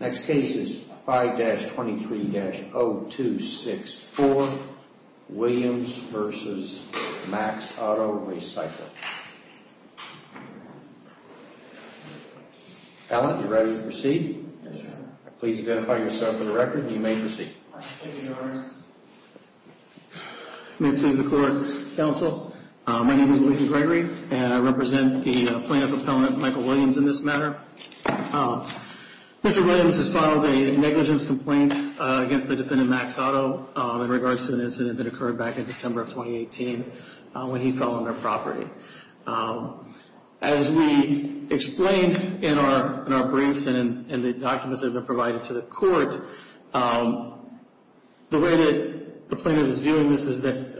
Next case is 5-23-0264, Williams v. Mack's Auto Recycling. Allen, you ready to proceed? Yes, sir. Please identify yourself for the record, and you may proceed. Thank you, Your Honor. May it please the Court, Counsel, my name is William Gregory, and I represent the plaintiff appellant, Michael Williams, in this matter. Mr. Williams has filed a negligence complaint against the defendant, Mack's Auto, in regards to an incident that occurred back in December of 2018 when he fell on their property. As we explained in our briefs and in the documents that have been provided to the Court, the way that the plaintiff is viewing this is that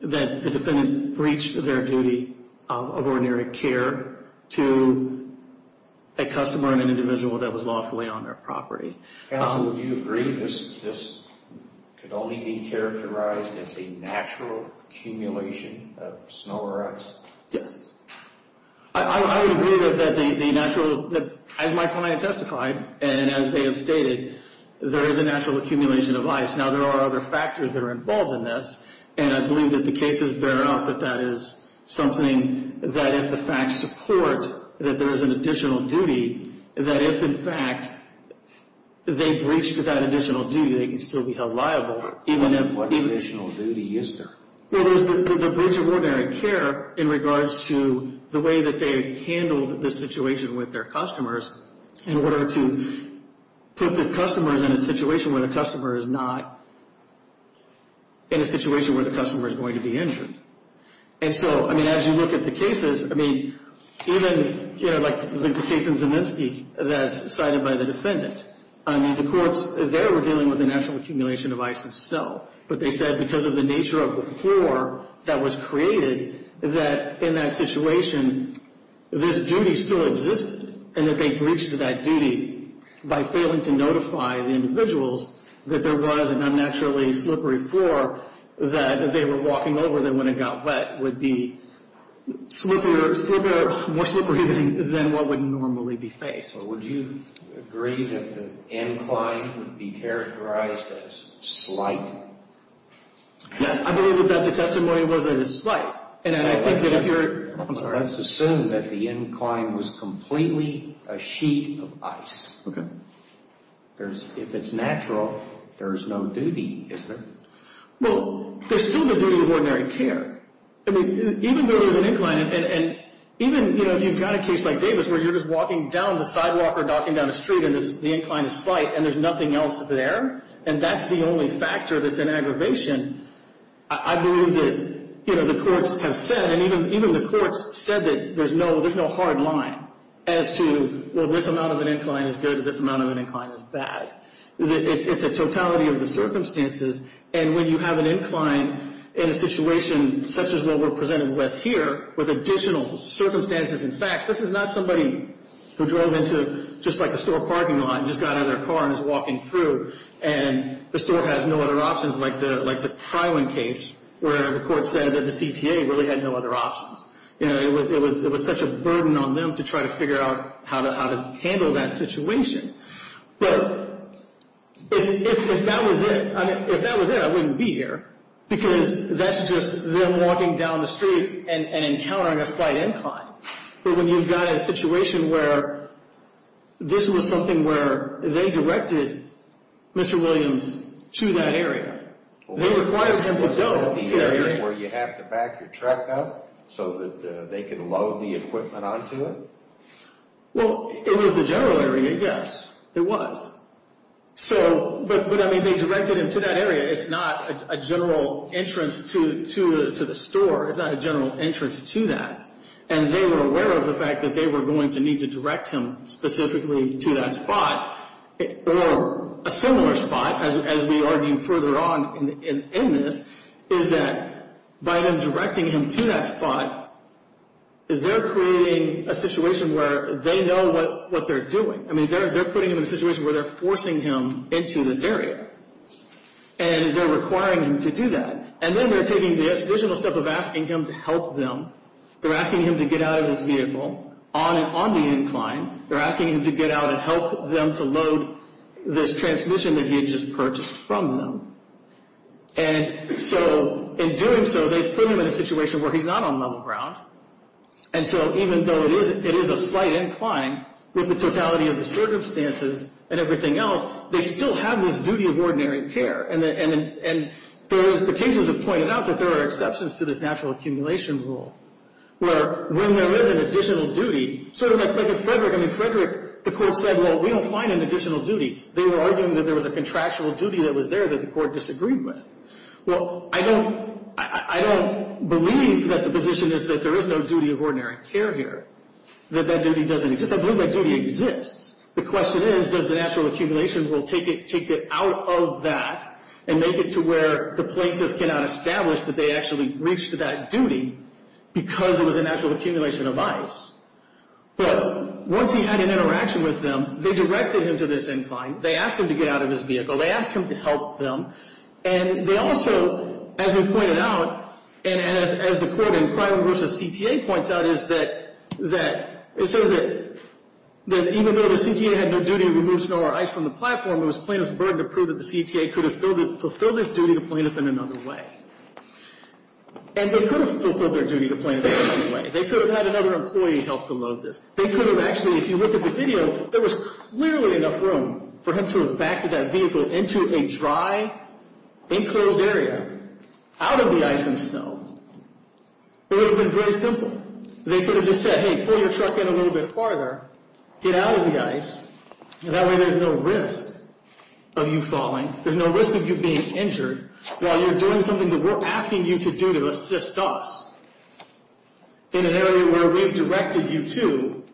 the defendant breached their duty of ordinary care to a customer and an individual that was lawfully on their property. Counsel, do you agree this could only be characterized as a natural accumulation of snow or ice? Yes. I would agree that the natural, as my client testified, and as they have stated, there is a natural accumulation of ice. Now, there are other factors that are involved in this, and I believe that the cases bear out that that is something that if the facts support that there is an additional duty, that if, in fact, they breached that additional duty, they could still be held liable, even if... What additional duty is there? Well, there is the breach of ordinary care in regards to the way that they handled the situation with their customers in order to put the customers in a situation where the customer is not... in a situation where the customer is going to be injured. And so, I mean, as you look at the cases, I mean, even, you know, like the case in Zeminsky that is cited by the defendant, I mean, the courts there were dealing with the natural accumulation of ice and snow. But they said because of the nature of the floor that was created, that in that situation, this duty still existed. And that they breached that duty by failing to notify the individuals that there was an unnaturally slippery floor that they were walking over, that when it got wet would be more slippery than what would normally be faced. So would you agree that the incline would be characterized as slight? Yes, I believe that the testimony was that it's slight. And I think that if you're... Let's assume that the incline was completely a sheet of ice. Okay. If it's natural, there's no duty, is there? Well, there's still the duty of ordinary care. I mean, even though there's an incline, and even, you know, if you've got a case like Davis where you're just walking down the sidewalk or knocking down a street and the incline is slight and there's nothing else there, and that's the only factor that's an aggravation, I believe that, you know, the courts have said, and even the courts said that there's no hard line as to, well, this amount of an incline is good, this amount of an incline is bad. It's a totality of the circumstances. And when you have an incline in a situation such as what we're presented with here, with additional circumstances and facts, this is not somebody who drove into just like a store parking lot and just got out of their car and is walking through and the store has no other options like the Prywin case where the court said that the CTA really had no other options. You know, it was such a burden on them to try to figure out how to handle that situation. But if that was it, I mean, if that was it, I wouldn't be here because that's just them walking down the street and encountering a slight incline. But when you've got a situation where this was something where they directed Mr. Williams to that area, they required him to go to that area. Was that the area where you have to back your truck up so that they can load the equipment onto it? Well, it was the general area, yes. It was. But, I mean, they directed him to that area. It's not a general entrance to the store. It's not a general entrance to that. And they were aware of the fact that they were going to need to direct him specifically to that spot. Or a similar spot, as we argue further on in this, is that by them directing him to that spot, they're creating a situation where they know what they're doing. I mean, they're putting him in a situation where they're forcing him into this area. And they're requiring him to do that. And then they're taking the additional step of asking him to help them. They're asking him to get out of his vehicle on the incline. They're asking him to get out and help them to load this transmission that he had just purchased from them. And so, in doing so, they've put him in a situation where he's not on level ground. And so, even though it is a slight incline with the totality of the circumstances and everything else, they still have this duty of ordinary care. And the cases have pointed out that there are exceptions to this natural accumulation rule, where when there is an additional duty, sort of like in Frederick. I mean, Frederick, the court said, well, we don't find an additional duty. They were arguing that there was a contractual duty that was there that the court disagreed with. Well, I don't believe that the position is that there is no duty of ordinary care here, that that duty doesn't exist. I believe that duty exists. The question is, does the natural accumulation rule take it out of that and make it to where the plaintiff cannot establish that they actually reached that duty because it was a natural accumulation of ice. But once he had an interaction with them, they directed him to this incline. They asked him to get out of his vehicle. They asked him to help them. And they also, as we pointed out, and as the court in Clyburn v. CTA points out, is that it says that even though the CTA had no duty to remove snow or ice from the platform, it was plaintiff's burden to prove that the CTA could have fulfilled this duty to plaintiff in another way. And they could have fulfilled their duty to plaintiff in another way. They could have had another employee help to load this. They could have actually, if you look at the video, there was clearly enough room for him to have backed that vehicle into a dry, enclosed area, out of the ice and snow. It would have been very simple. They could have just said, hey, pull your truck in a little bit farther, get out of the ice, and that way there's no risk of you falling. There's no risk of you being injured while you're doing something that we're asking you to do to assist us. In an area where we've directed you to,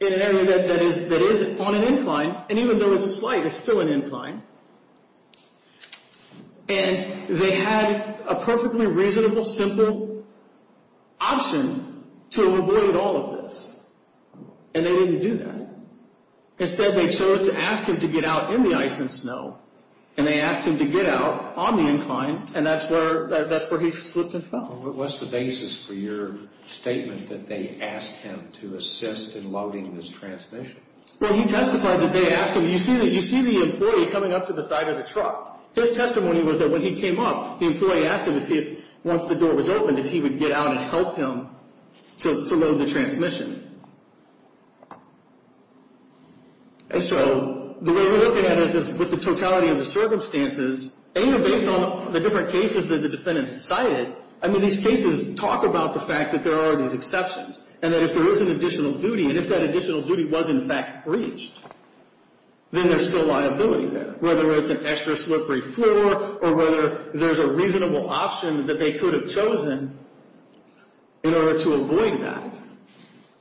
in an area that is on an incline, and even though it's slight, it's still an incline, and they had a perfectly reasonable, simple option to avoid all of this. And they didn't do that. Instead, they chose to ask him to get out in the ice and snow, and they asked him to get out on the incline, and that's where he slipped and fell. What's the basis for your statement that they asked him to assist in loading this transmission? Well, he testified that they asked him. You see the employee coming up to the side of the truck. His testimony was that when he came up, the employee asked him, once the door was open, if he would get out and help him to load the transmission. And so the way we're looking at this is with the totality of the circumstances, and based on the different cases that the defendant cited, I mean these cases talk about the fact that there are these exceptions, and that if there is an additional duty, and if that additional duty was in fact breached, then there's still liability there, whether it's an extra slippery floor or whether there's a reasonable option that they could have chosen in order to avoid that.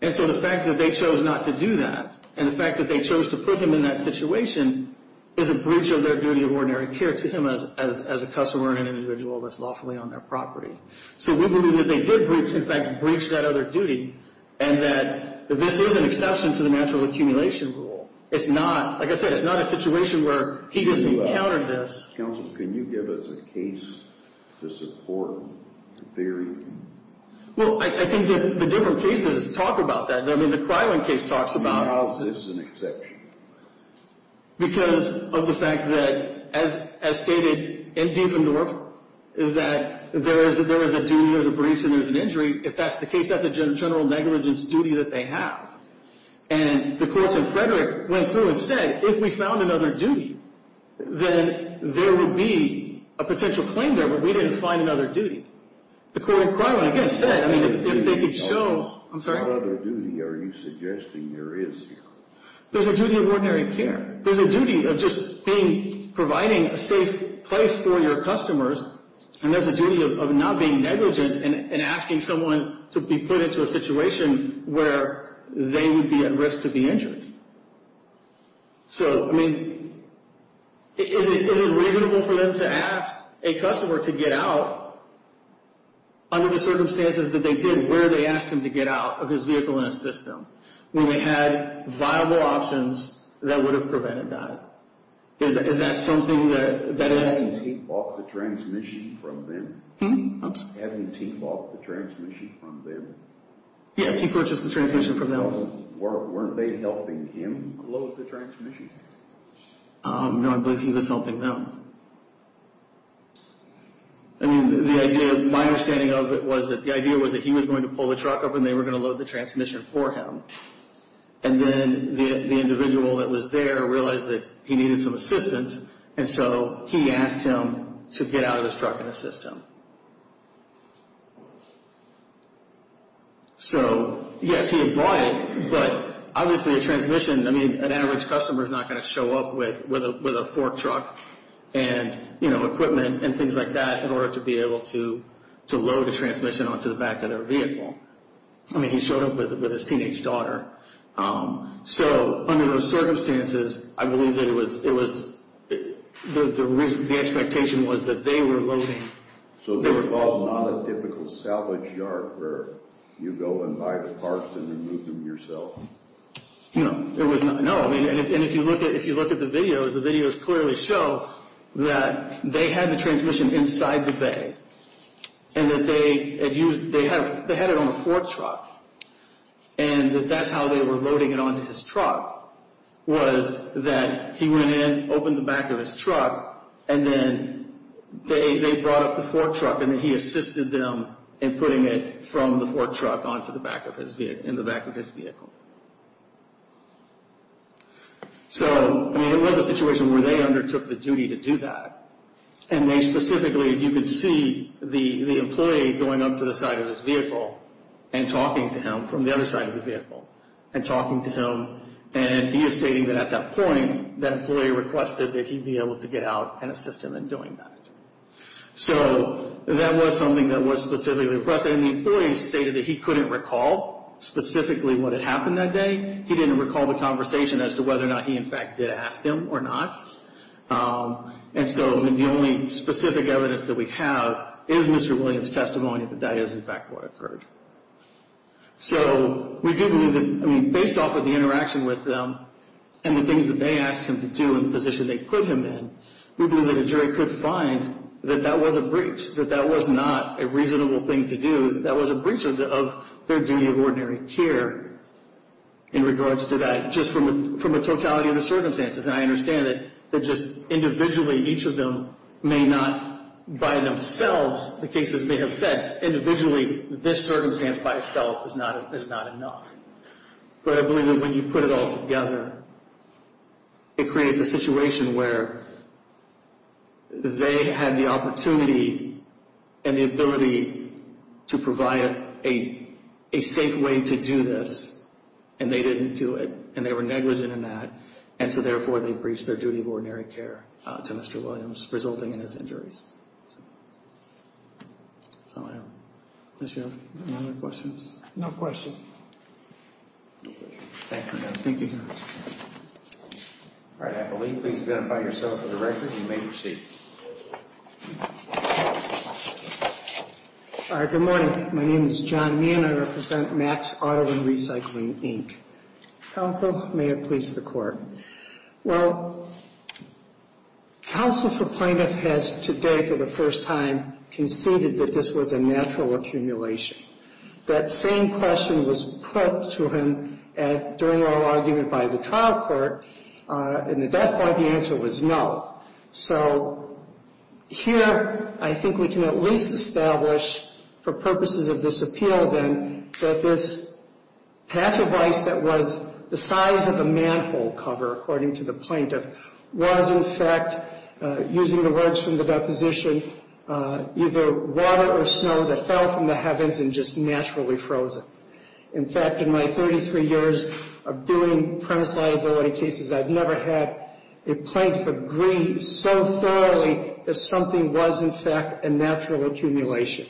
And so the fact that they chose not to do that, and the fact that they chose to put him in that situation, is a breach of their duty of ordinary care to him as a customer and an individual that's lawfully on their property. So we believe that they did in fact breach that other duty, and that this is an exception to the natural accumulation rule. It's not, like I said, it's not a situation where he just encountered this. Counsel, can you give us a case to support the theory? Well, I think the different cases talk about that. I mean, the Krywan case talks about this. I mean, how is this an exception? Because of the fact that, as stated in Dieffendorf, that there is a duty, there's a breach, and there's an injury. If that's the case, that's a general negligence duty that they have. And the courts in Frederick went through and said, if we found another duty, then there would be a potential claim there, but we didn't find another duty. The court in Krywan, again, said, I mean, if they could show other duty, are you suggesting there is? There's a duty of ordinary care. There's a duty of just providing a safe place for your customers, and there's a duty of not being negligent and asking someone to be put into a situation where they would be at risk to be injured. So, I mean, is it reasonable for them to ask a customer to get out, under the circumstances that they did, where they asked him to get out of his vehicle and assist them, when they had viable options that would have prevented that? Is that something that is? Hadn't he bought the transmission from them? Hmm? Hadn't he bought the transmission from them? Yes, he purchased the transmission from them. Weren't they helping him load the transmission? No, I believe he was helping them. I mean, my understanding of it was that the idea was that he was going to pull the truck up and they were going to load the transmission for him, and then the individual that was there realized that he needed some assistance, and so he asked him to get out of his truck and assist him. So, yes, he had bought it, but obviously a transmission, I mean, an average customer is not going to show up with a fork truck and, you know, equipment and things like that in order to be able to load a transmission onto the back of their vehicle. I mean, he showed up with his teenage daughter. So, under those circumstances, I believe that it was, the expectation was that they were loading. So this was not a typical salvage yard where you go and buy the parts and remove them yourself? No, it was not. No, I mean, and if you look at the videos, the videos clearly show that they had the transmission inside the bay and that they had it on a fork truck and that that's how they were loading it onto his truck was that he went in, opened the back of his truck, and then they brought up the fork truck and then he assisted them in putting it from the fork truck onto the back of his vehicle, in the back of his vehicle. So, I mean, it was a situation where they undertook the duty to do that, and they specifically, you could see the employee going up to the side of his vehicle and talking to him from the other side of the vehicle and talking to him, and he is stating that at that point, that employee requested that he be able to get out and assist him in doing that. So that was something that was specifically requested, and the employee stated that he couldn't recall specifically what had happened that day. He didn't recall the conversation as to whether or not he, in fact, did ask him or not. And so the only specific evidence that we have is Mr. Williams' testimony that that is, in fact, what occurred. So we do believe that, I mean, based off of the interaction with them and the things that they asked him to do and the position they put him in, we believe that a jury could find that that was a breach, that that was not a reasonable thing to do. That was a breach of their duty of ordinary care in regards to that, just from the totality of the circumstances. And I understand that just individually, each of them may not, by themselves, the cases may have said, individually, this circumstance by itself is not enough. But I believe that when you put it all together, it creates a situation where they had the opportunity and the ability to provide a safe way to do this, and they didn't do it, and they were negligent in that. And so, therefore, they breached their duty of ordinary care to Mr. Williams, resulting in his injuries. So, unless you have any other questions. No questions. Thank you, Your Honor. All right. Appellee, please identify yourself for the record, and you may proceed. Good morning. My name is John Meehan. I represent Max Auto and Recycling, Inc. Counsel, may it please the Court. Well, Counsel for Plaintiff has today, for the first time, conceded that this was a natural accumulation. That same question was put to him during oral argument by the trial court, and at that point, the answer was no. So, here, I think we can at least establish, for purposes of this appeal, then, that this patch of ice that was the size of a manhole cover, according to the plaintiff, was, in fact, using the words from the deposition, either water or snow that fell from the heavens and just naturally frozen. In fact, in my 33 years of doing premise liability cases, I've never had a plaintiff agree so thoroughly that something was, in fact, a natural accumulation.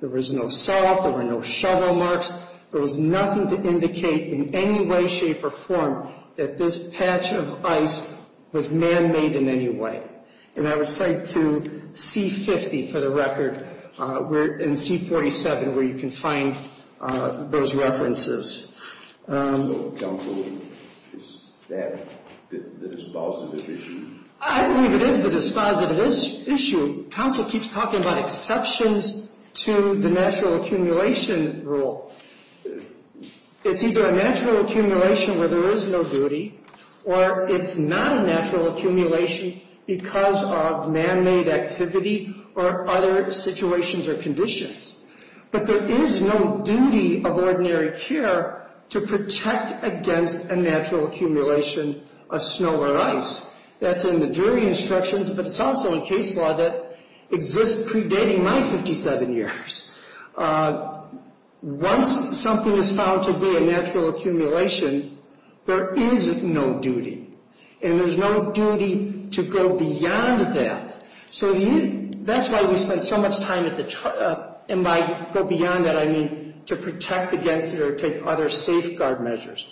There was no salt. There were no shovel marks. There was nothing to indicate in any way, shape, or form that this patch of ice was man-made in any way. And I would say to C-50, for the record, and C-47, where you can find those references. Counsel, is that the dispositive issue? I believe it is the dispositive issue. Counsel keeps talking about exceptions to the natural accumulation rule. It's either a natural accumulation where there is no duty, or it's not a natural accumulation because of man-made activity or other situations or conditions. But there is no duty of ordinary care to protect against a natural accumulation of snow or ice. That's in the jury instructions, but it's also in case law that exists predating my 57 years. Once something is found to be a natural accumulation, there is no duty. And there's no duty to go beyond that. So that's why we spend so much time at the trial. And by go beyond that, I mean to protect against it or take other safeguard measures.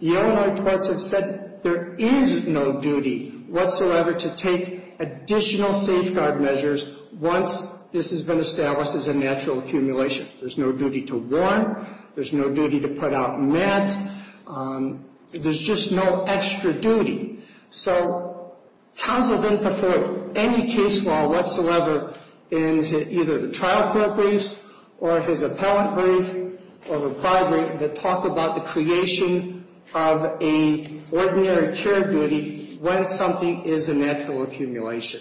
The Illinois courts have said there is no duty whatsoever to take additional safeguard measures once this has been established as a natural accumulation. There's no duty to warn. There's no duty to put out mats. There's just no extra duty. So, counsel didn't put forward any case law whatsoever in either the trial court briefs or his appellant brief or reply brief that talked about the creation of a ordinary care duty when something is a natural accumulation.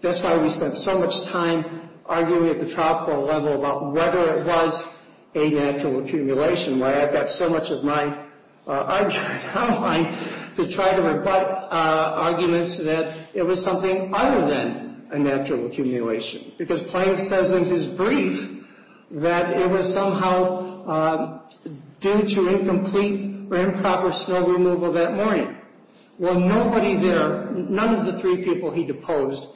That's why we spent so much time arguing at the trial court level about whether it was a natural accumulation, why I've got so much of my time to try to rebut arguments that it was something other than a natural accumulation. Because Plank says in his brief that it was somehow due to incomplete or improper snow removal that morning. Well, nobody there, none of the three people he deposed,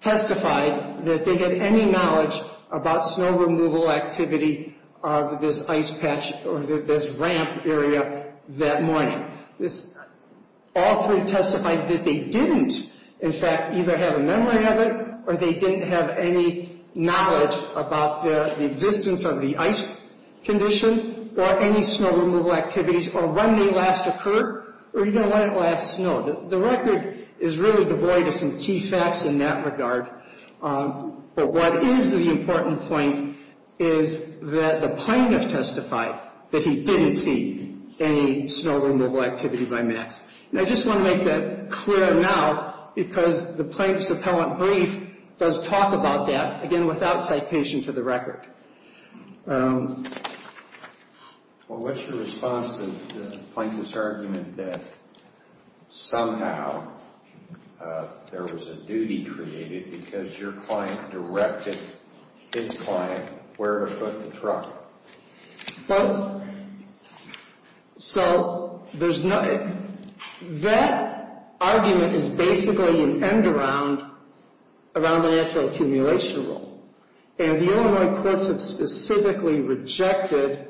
testified that they had any knowledge about snow removal activity of this ice patch or this ramp area that morning. All three testified that they didn't, in fact, either have a memory of it or they didn't have any knowledge about the existence of the ice condition or any snow removal activities or when they last occurred or even when it last snowed. The record is really devoid of some key facts in that regard. But what is the important point is that the plaintiff testified that he didn't see any snow removal activity by Max. And I just want to make that clear now because the plaintiff's appellant brief does talk about that, again, without citation to the record. Well, what's your response to Plank's argument that somehow there was a duty created because your client directed his client where to put the truck? Well, so that argument is basically an end around the natural accumulation rule. And the Illinois courts have specifically rejected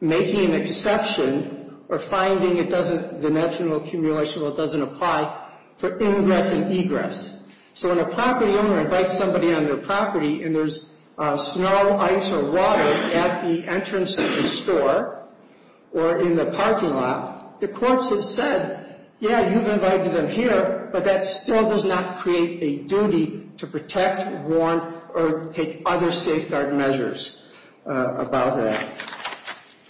making an exception or finding the natural accumulation rule doesn't apply for ingress and egress. So when a property owner invites somebody on their property and there's snow, ice, or water at the entrance of the store or in the parking lot, the courts have said, yeah, you've invited them here, but that still does not create a duty to protect, warn, or take other safeguard measures about that.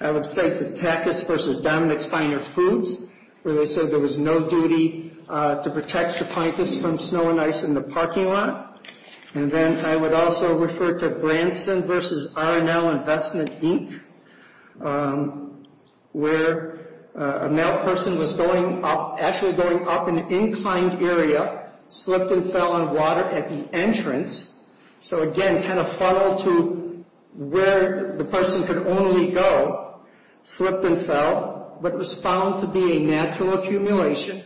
I would cite the Tackus v. Dominick's Finer Foods where they said there was no duty to protect your plaintiffs from snow and ice in the parking lot. And then I would also refer to Branson v. R&L Investment Inc. where a male person was actually going up an inclined area, slipped and fell on water at the entrance. So again, kind of funneled to where the person could only go, slipped and fell, but was found to be a natural accumulation.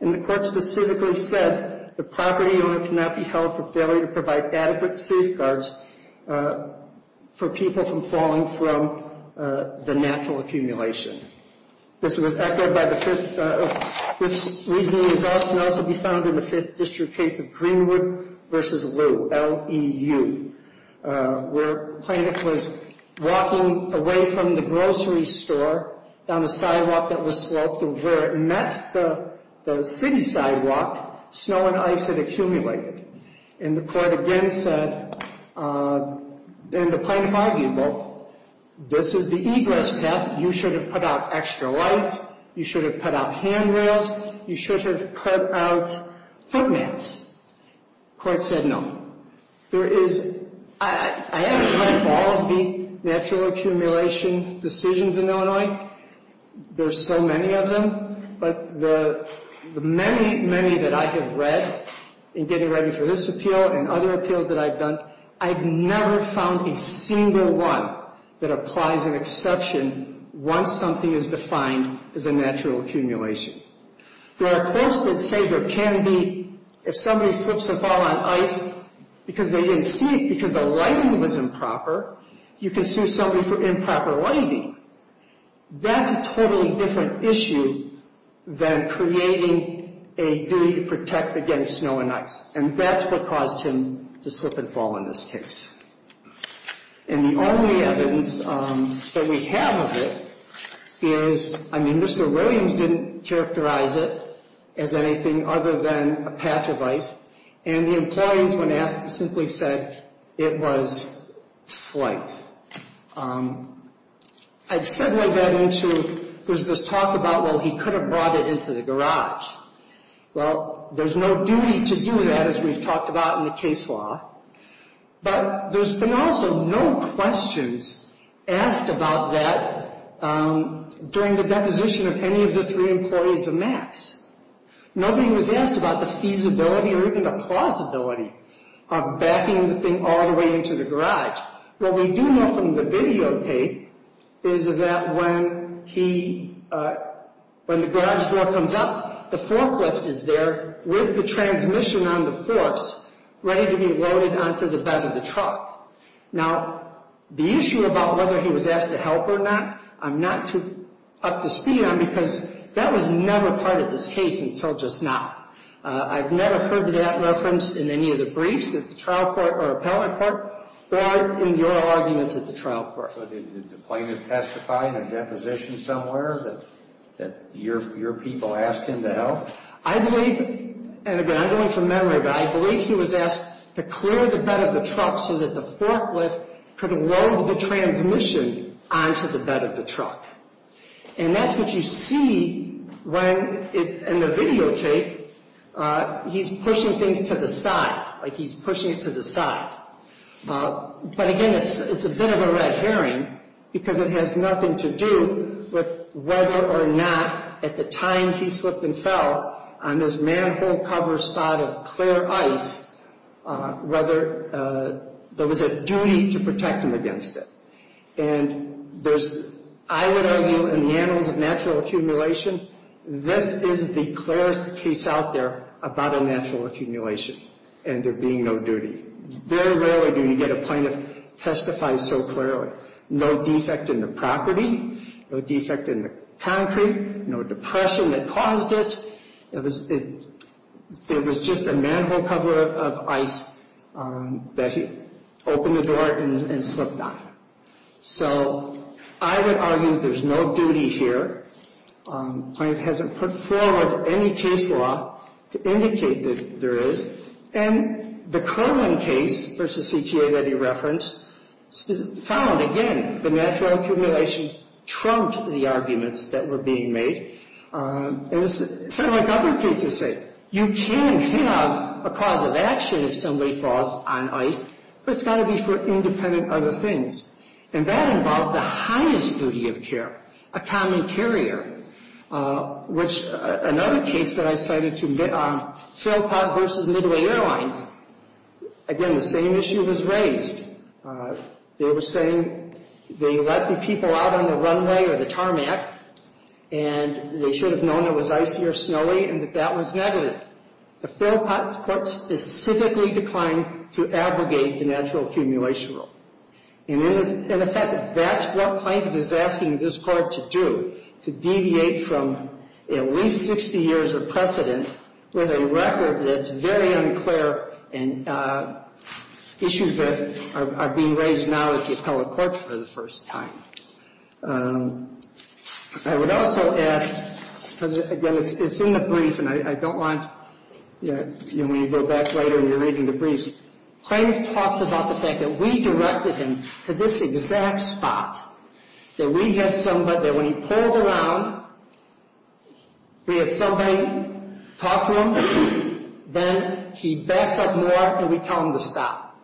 And the court specifically said the property owner cannot be held for failure to provide adequate safeguards for people from falling from the natural accumulation. This was echoed by the fifth... This reasoning can also be found in the Fifth District case of Greenwood v. Lou, L-E-U, where a plaintiff was walking away from the grocery store down a sidewalk that was sloped and where it met the city sidewalk, snow and ice had accumulated. And the court again said, and the plaintiff argued, well, this is the egress path. You should have put out extra lights. You should have put out handrails. You should have put out foot mats. The court said no. There is... I haven't read all of the natural accumulation decisions in Illinois. There's so many of them. But the many, many that I have read in getting ready for this appeal and other appeals that I've done, I've never found a single one that applies an exception once something is defined as a natural accumulation. There are courts that say there can be, if somebody slips and falls on ice because they didn't see it because the lighting was improper, you can sue somebody for improper lighting. That's a totally different issue than creating a duty to protect against snow and ice. And that's what caused him to slip and fall in this case. And the only evidence that we have of it is, I mean, Mr. Williams didn't characterize it as anything other than a patch of ice. And the employees, when asked, simply said it was slight. I'd segue that into there's this talk about, well, he could have brought it into the garage. Well, there's no duty to do that, as we've talked about in the case law. But there's been also no questions asked about that during the deposition of any of the three employees of Max. Nobody was asked about the feasibility or even the plausibility of backing the thing all the way into the garage. What we do know from the videotape is that when he, when the garage door comes up, the forklift is there with the transmission on the force, ready to be loaded onto the bed of the truck. Now, the issue about whether he was asked to help or not, I'm not too up to speed on because that was never part of this case until just now. I've never heard that reference in any of the briefs at the trial court or appellate court or in your arguments at the trial court. So did the plaintiff testify in a deposition somewhere that your people asked him to help? I believe, and again, I'm going from memory, but I believe he was asked to clear the bed of the truck so that the forklift could load the transmission onto the bed of the truck. And that's what you see when, in the videotape, he's pushing things to the side, like he's pushing it to the side. But again, it's a bit of a red herring because it has nothing to do with whether or not at the time he slipped and fell on this manhole cover spot of clear ice, whether there was a duty to protect him against it. And there's, I would argue in the annals of natural accumulation, this is the clearest case out there about a natural accumulation and there being no duty. Very rarely do you get a plaintiff testify so clearly. No defect in the property, no defect in the concrete, no depression that caused it. It was just a manhole cover of ice that he opened the door and slipped on. So I would argue there's no duty here. The plaintiff hasn't put forward any case law to indicate that there is. And the Kerman case versus CTA that he referenced found, again, the natural accumulation trumped the arguments that were being made. And it's sort of like other cases say, you can have a cause of action if somebody falls on ice, but it's got to be for independent other things. And that involved the highest duty of care, a common carrier, which another case that I cited, Philpott versus Midway Airlines, again, the same issue was raised. They were saying they let the people out on the runway or the tarmac and they should have known it was icy or snowy and that that was negative. The Philpott court specifically declined to abrogate the natural accumulation rule. And in effect, that's what plaintiff is asking this court to do, to deviate from at least 60 years of precedent with a record that's very unclear and issues that are being raised now at the appellate court for the first time. I would also add, because, again, it's in the brief and I don't want, you know, when you go back later and you're reading the briefs, plaintiff talks about the fact that we directed him to this exact spot, that we had somebody that when he pulled around, we had somebody talk to him, then he backs up more and we tell him to stop.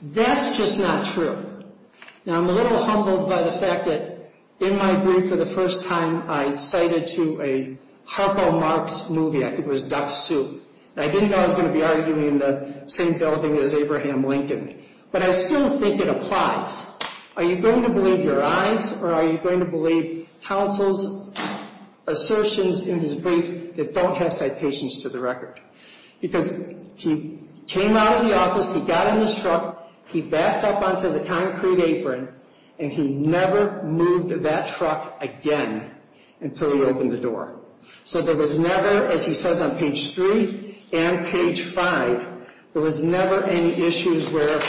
That's just not true. Now, I'm a little humbled by the fact that in my brief for the first time, I cited to a Harpo Marx movie, I think it was Duck Soup. I didn't know I was going to be arguing in the same building as Abraham Lincoln, but I still think it applies. Are you going to believe your eyes or are you going to believe counsel's assertions in his brief that don't have citations to the record? Because he came out of the office, he got in his truck, he backed up onto the concrete apron, and he never moved that truck again until he opened the door. So there was never, as he says on page 3 and page 5, there was never any issues where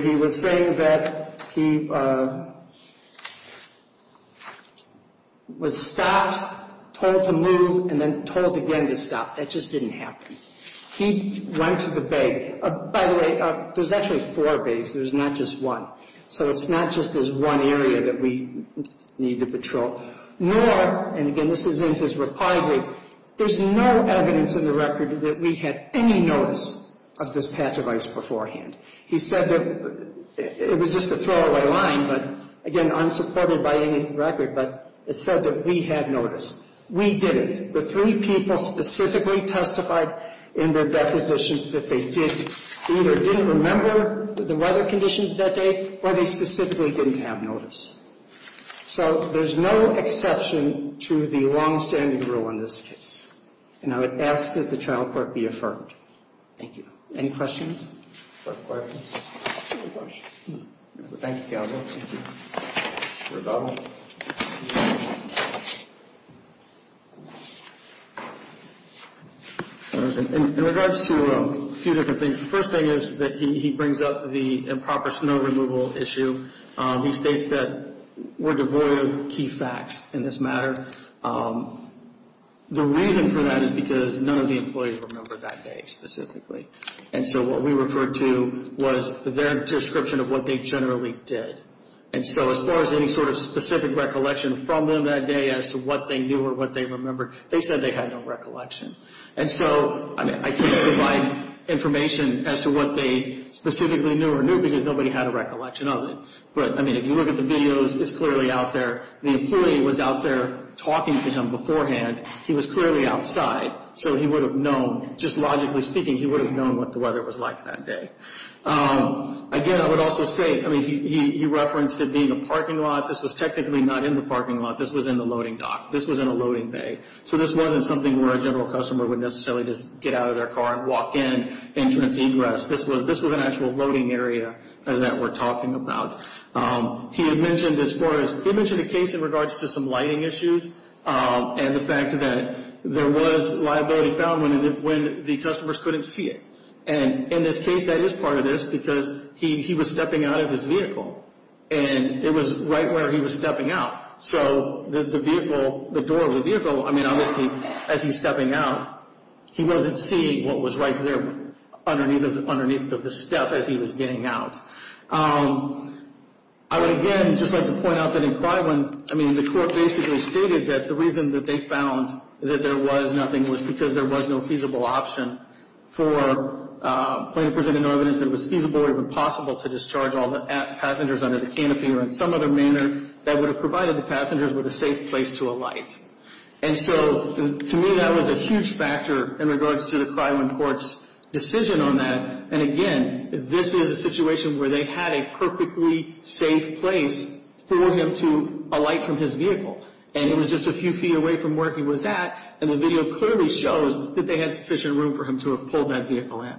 he was saying that he was stopped, told to move, and then told again to stop. That just didn't happen. He went to the bay. By the way, there's actually four bays. There's not just one. So it's not just this one area that we need to patrol. Nor, and again, this is in his reply brief, there's no evidence in the record that we had any notice of this patch of ice beforehand. He said that it was just a throwaway line, but, again, unsupported by any record, but it said that we had notice. We didn't. The three people specifically testified in their depositions that they either didn't remember the weather conditions that day or they specifically didn't have notice. So there's no exception to the longstanding rule in this case, and I would ask that the trial court be affirmed. Thank you. Any questions? No questions. Thank you, Counsel. Thank you. Rebuttal. Rebuttal. In regards to a few different things, the first thing is that he brings up the improper snow removal issue. He states that we're devoid of key facts in this matter. The reason for that is because none of the employees remember that day specifically, and so what we referred to was their description of what they generally did. And so as far as any sort of specific recollection from them that day as to what they knew or what they remembered, they said they had no recollection. And so, I mean, I can't provide information as to what they specifically knew or knew because nobody had a recollection of it. But, I mean, if you look at the videos, it's clearly out there. The employee was out there talking to him beforehand. He was clearly outside, so he would have known. Just logically speaking, he would have known what the weather was like that day. Again, I would also say, I mean, he referenced it being a parking lot. This was technically not in the parking lot. This was in the loading dock. This was in a loading bay. So this wasn't something where a general customer would necessarily just get out of their car and walk in, entrance, egress. This was an actual loading area that we're talking about. He had mentioned as far as he mentioned a case in regards to some lighting issues and the fact that there was liability found when the customers couldn't see it. And in this case, that is part of this because he was stepping out of his vehicle. And it was right where he was stepping out. So the vehicle, the door of the vehicle, I mean, obviously, as he's stepping out, he wasn't seeing what was right there underneath of the step as he was getting out. I would, again, just like to point out that in Clywin, I mean, the court basically stated that the reason that they found that there was nothing was because there was no feasible option for plaintiff presenting evidence that it was feasible or even possible to discharge all the passengers under the canopy or in some other manner that would have provided the passengers with a safe place to alight. And so to me, that was a huge factor in regards to the Clywin court's decision on that. And, again, this is a situation where they had a perfectly safe place for him to alight from his vehicle. And it was just a few feet away from where he was at. And the video clearly shows that they had sufficient room for him to have pulled that vehicle in.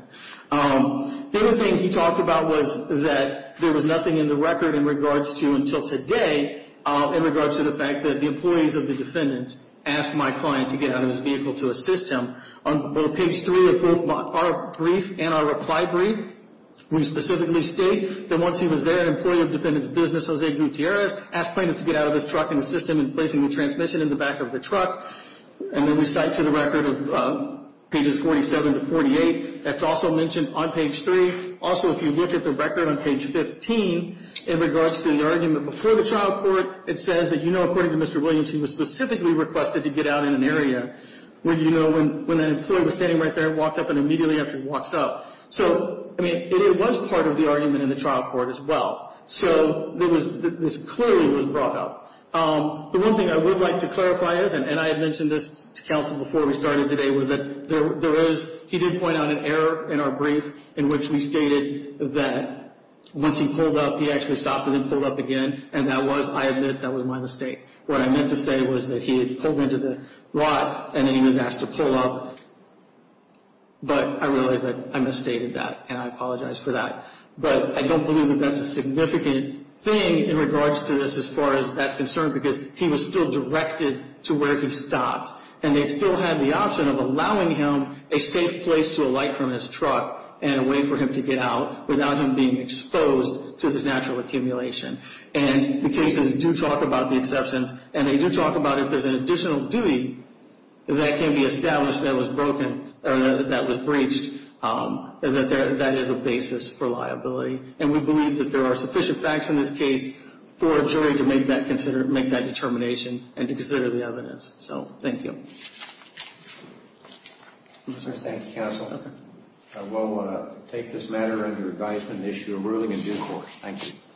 The other thing he talked about was that there was nothing in the record in regards to until today, in regards to the fact that the employees of the defendant asked my client to get out of his vehicle to assist him. On page 3 of both our brief and our reply brief, we specifically state that once he was there, an employee of the defendant's business, Jose Gutierrez, asked plaintiff to get out of his truck and assist him in placing the transmission in the back of the truck. And then we cite to the record of pages 47 to 48. That's also mentioned on page 3. Also, if you look at the record on page 15, in regards to the argument before the trial court, it says that, you know, according to Mr. Williams, he was specifically requested to get out in an area where, you know, when that employee was standing right there and walked up and immediately after he walks up. So, I mean, it was part of the argument in the trial court as well. So this clearly was brought up. The one thing I would like to clarify is, and I had mentioned this to counsel before we started today, was that there is, he did point out an error in our brief in which we stated that once he pulled up, he actually stopped and then pulled up again. And that was, I admit, that was my mistake. What I meant to say was that he had pulled into the lot and then he was asked to pull up. But I realize that I misstated that, and I apologize for that. But I don't believe that that's a significant thing in regards to this as far as that's concerned because he was still directed to where he stopped. And they still had the option of allowing him a safe place to alight from his truck and a way for him to get out without him being exposed to this natural accumulation. And the cases do talk about the exceptions, and they do talk about if there's an additional duty that can be established that was broken or that was breached, that that is a basis for liability. And we believe that there are sufficient facts in this case for a jury to make that determination and to consider the evidence. So, thank you. Thank you, counsel. I will take this matter under advisement and issue a ruling in due course. Thank you.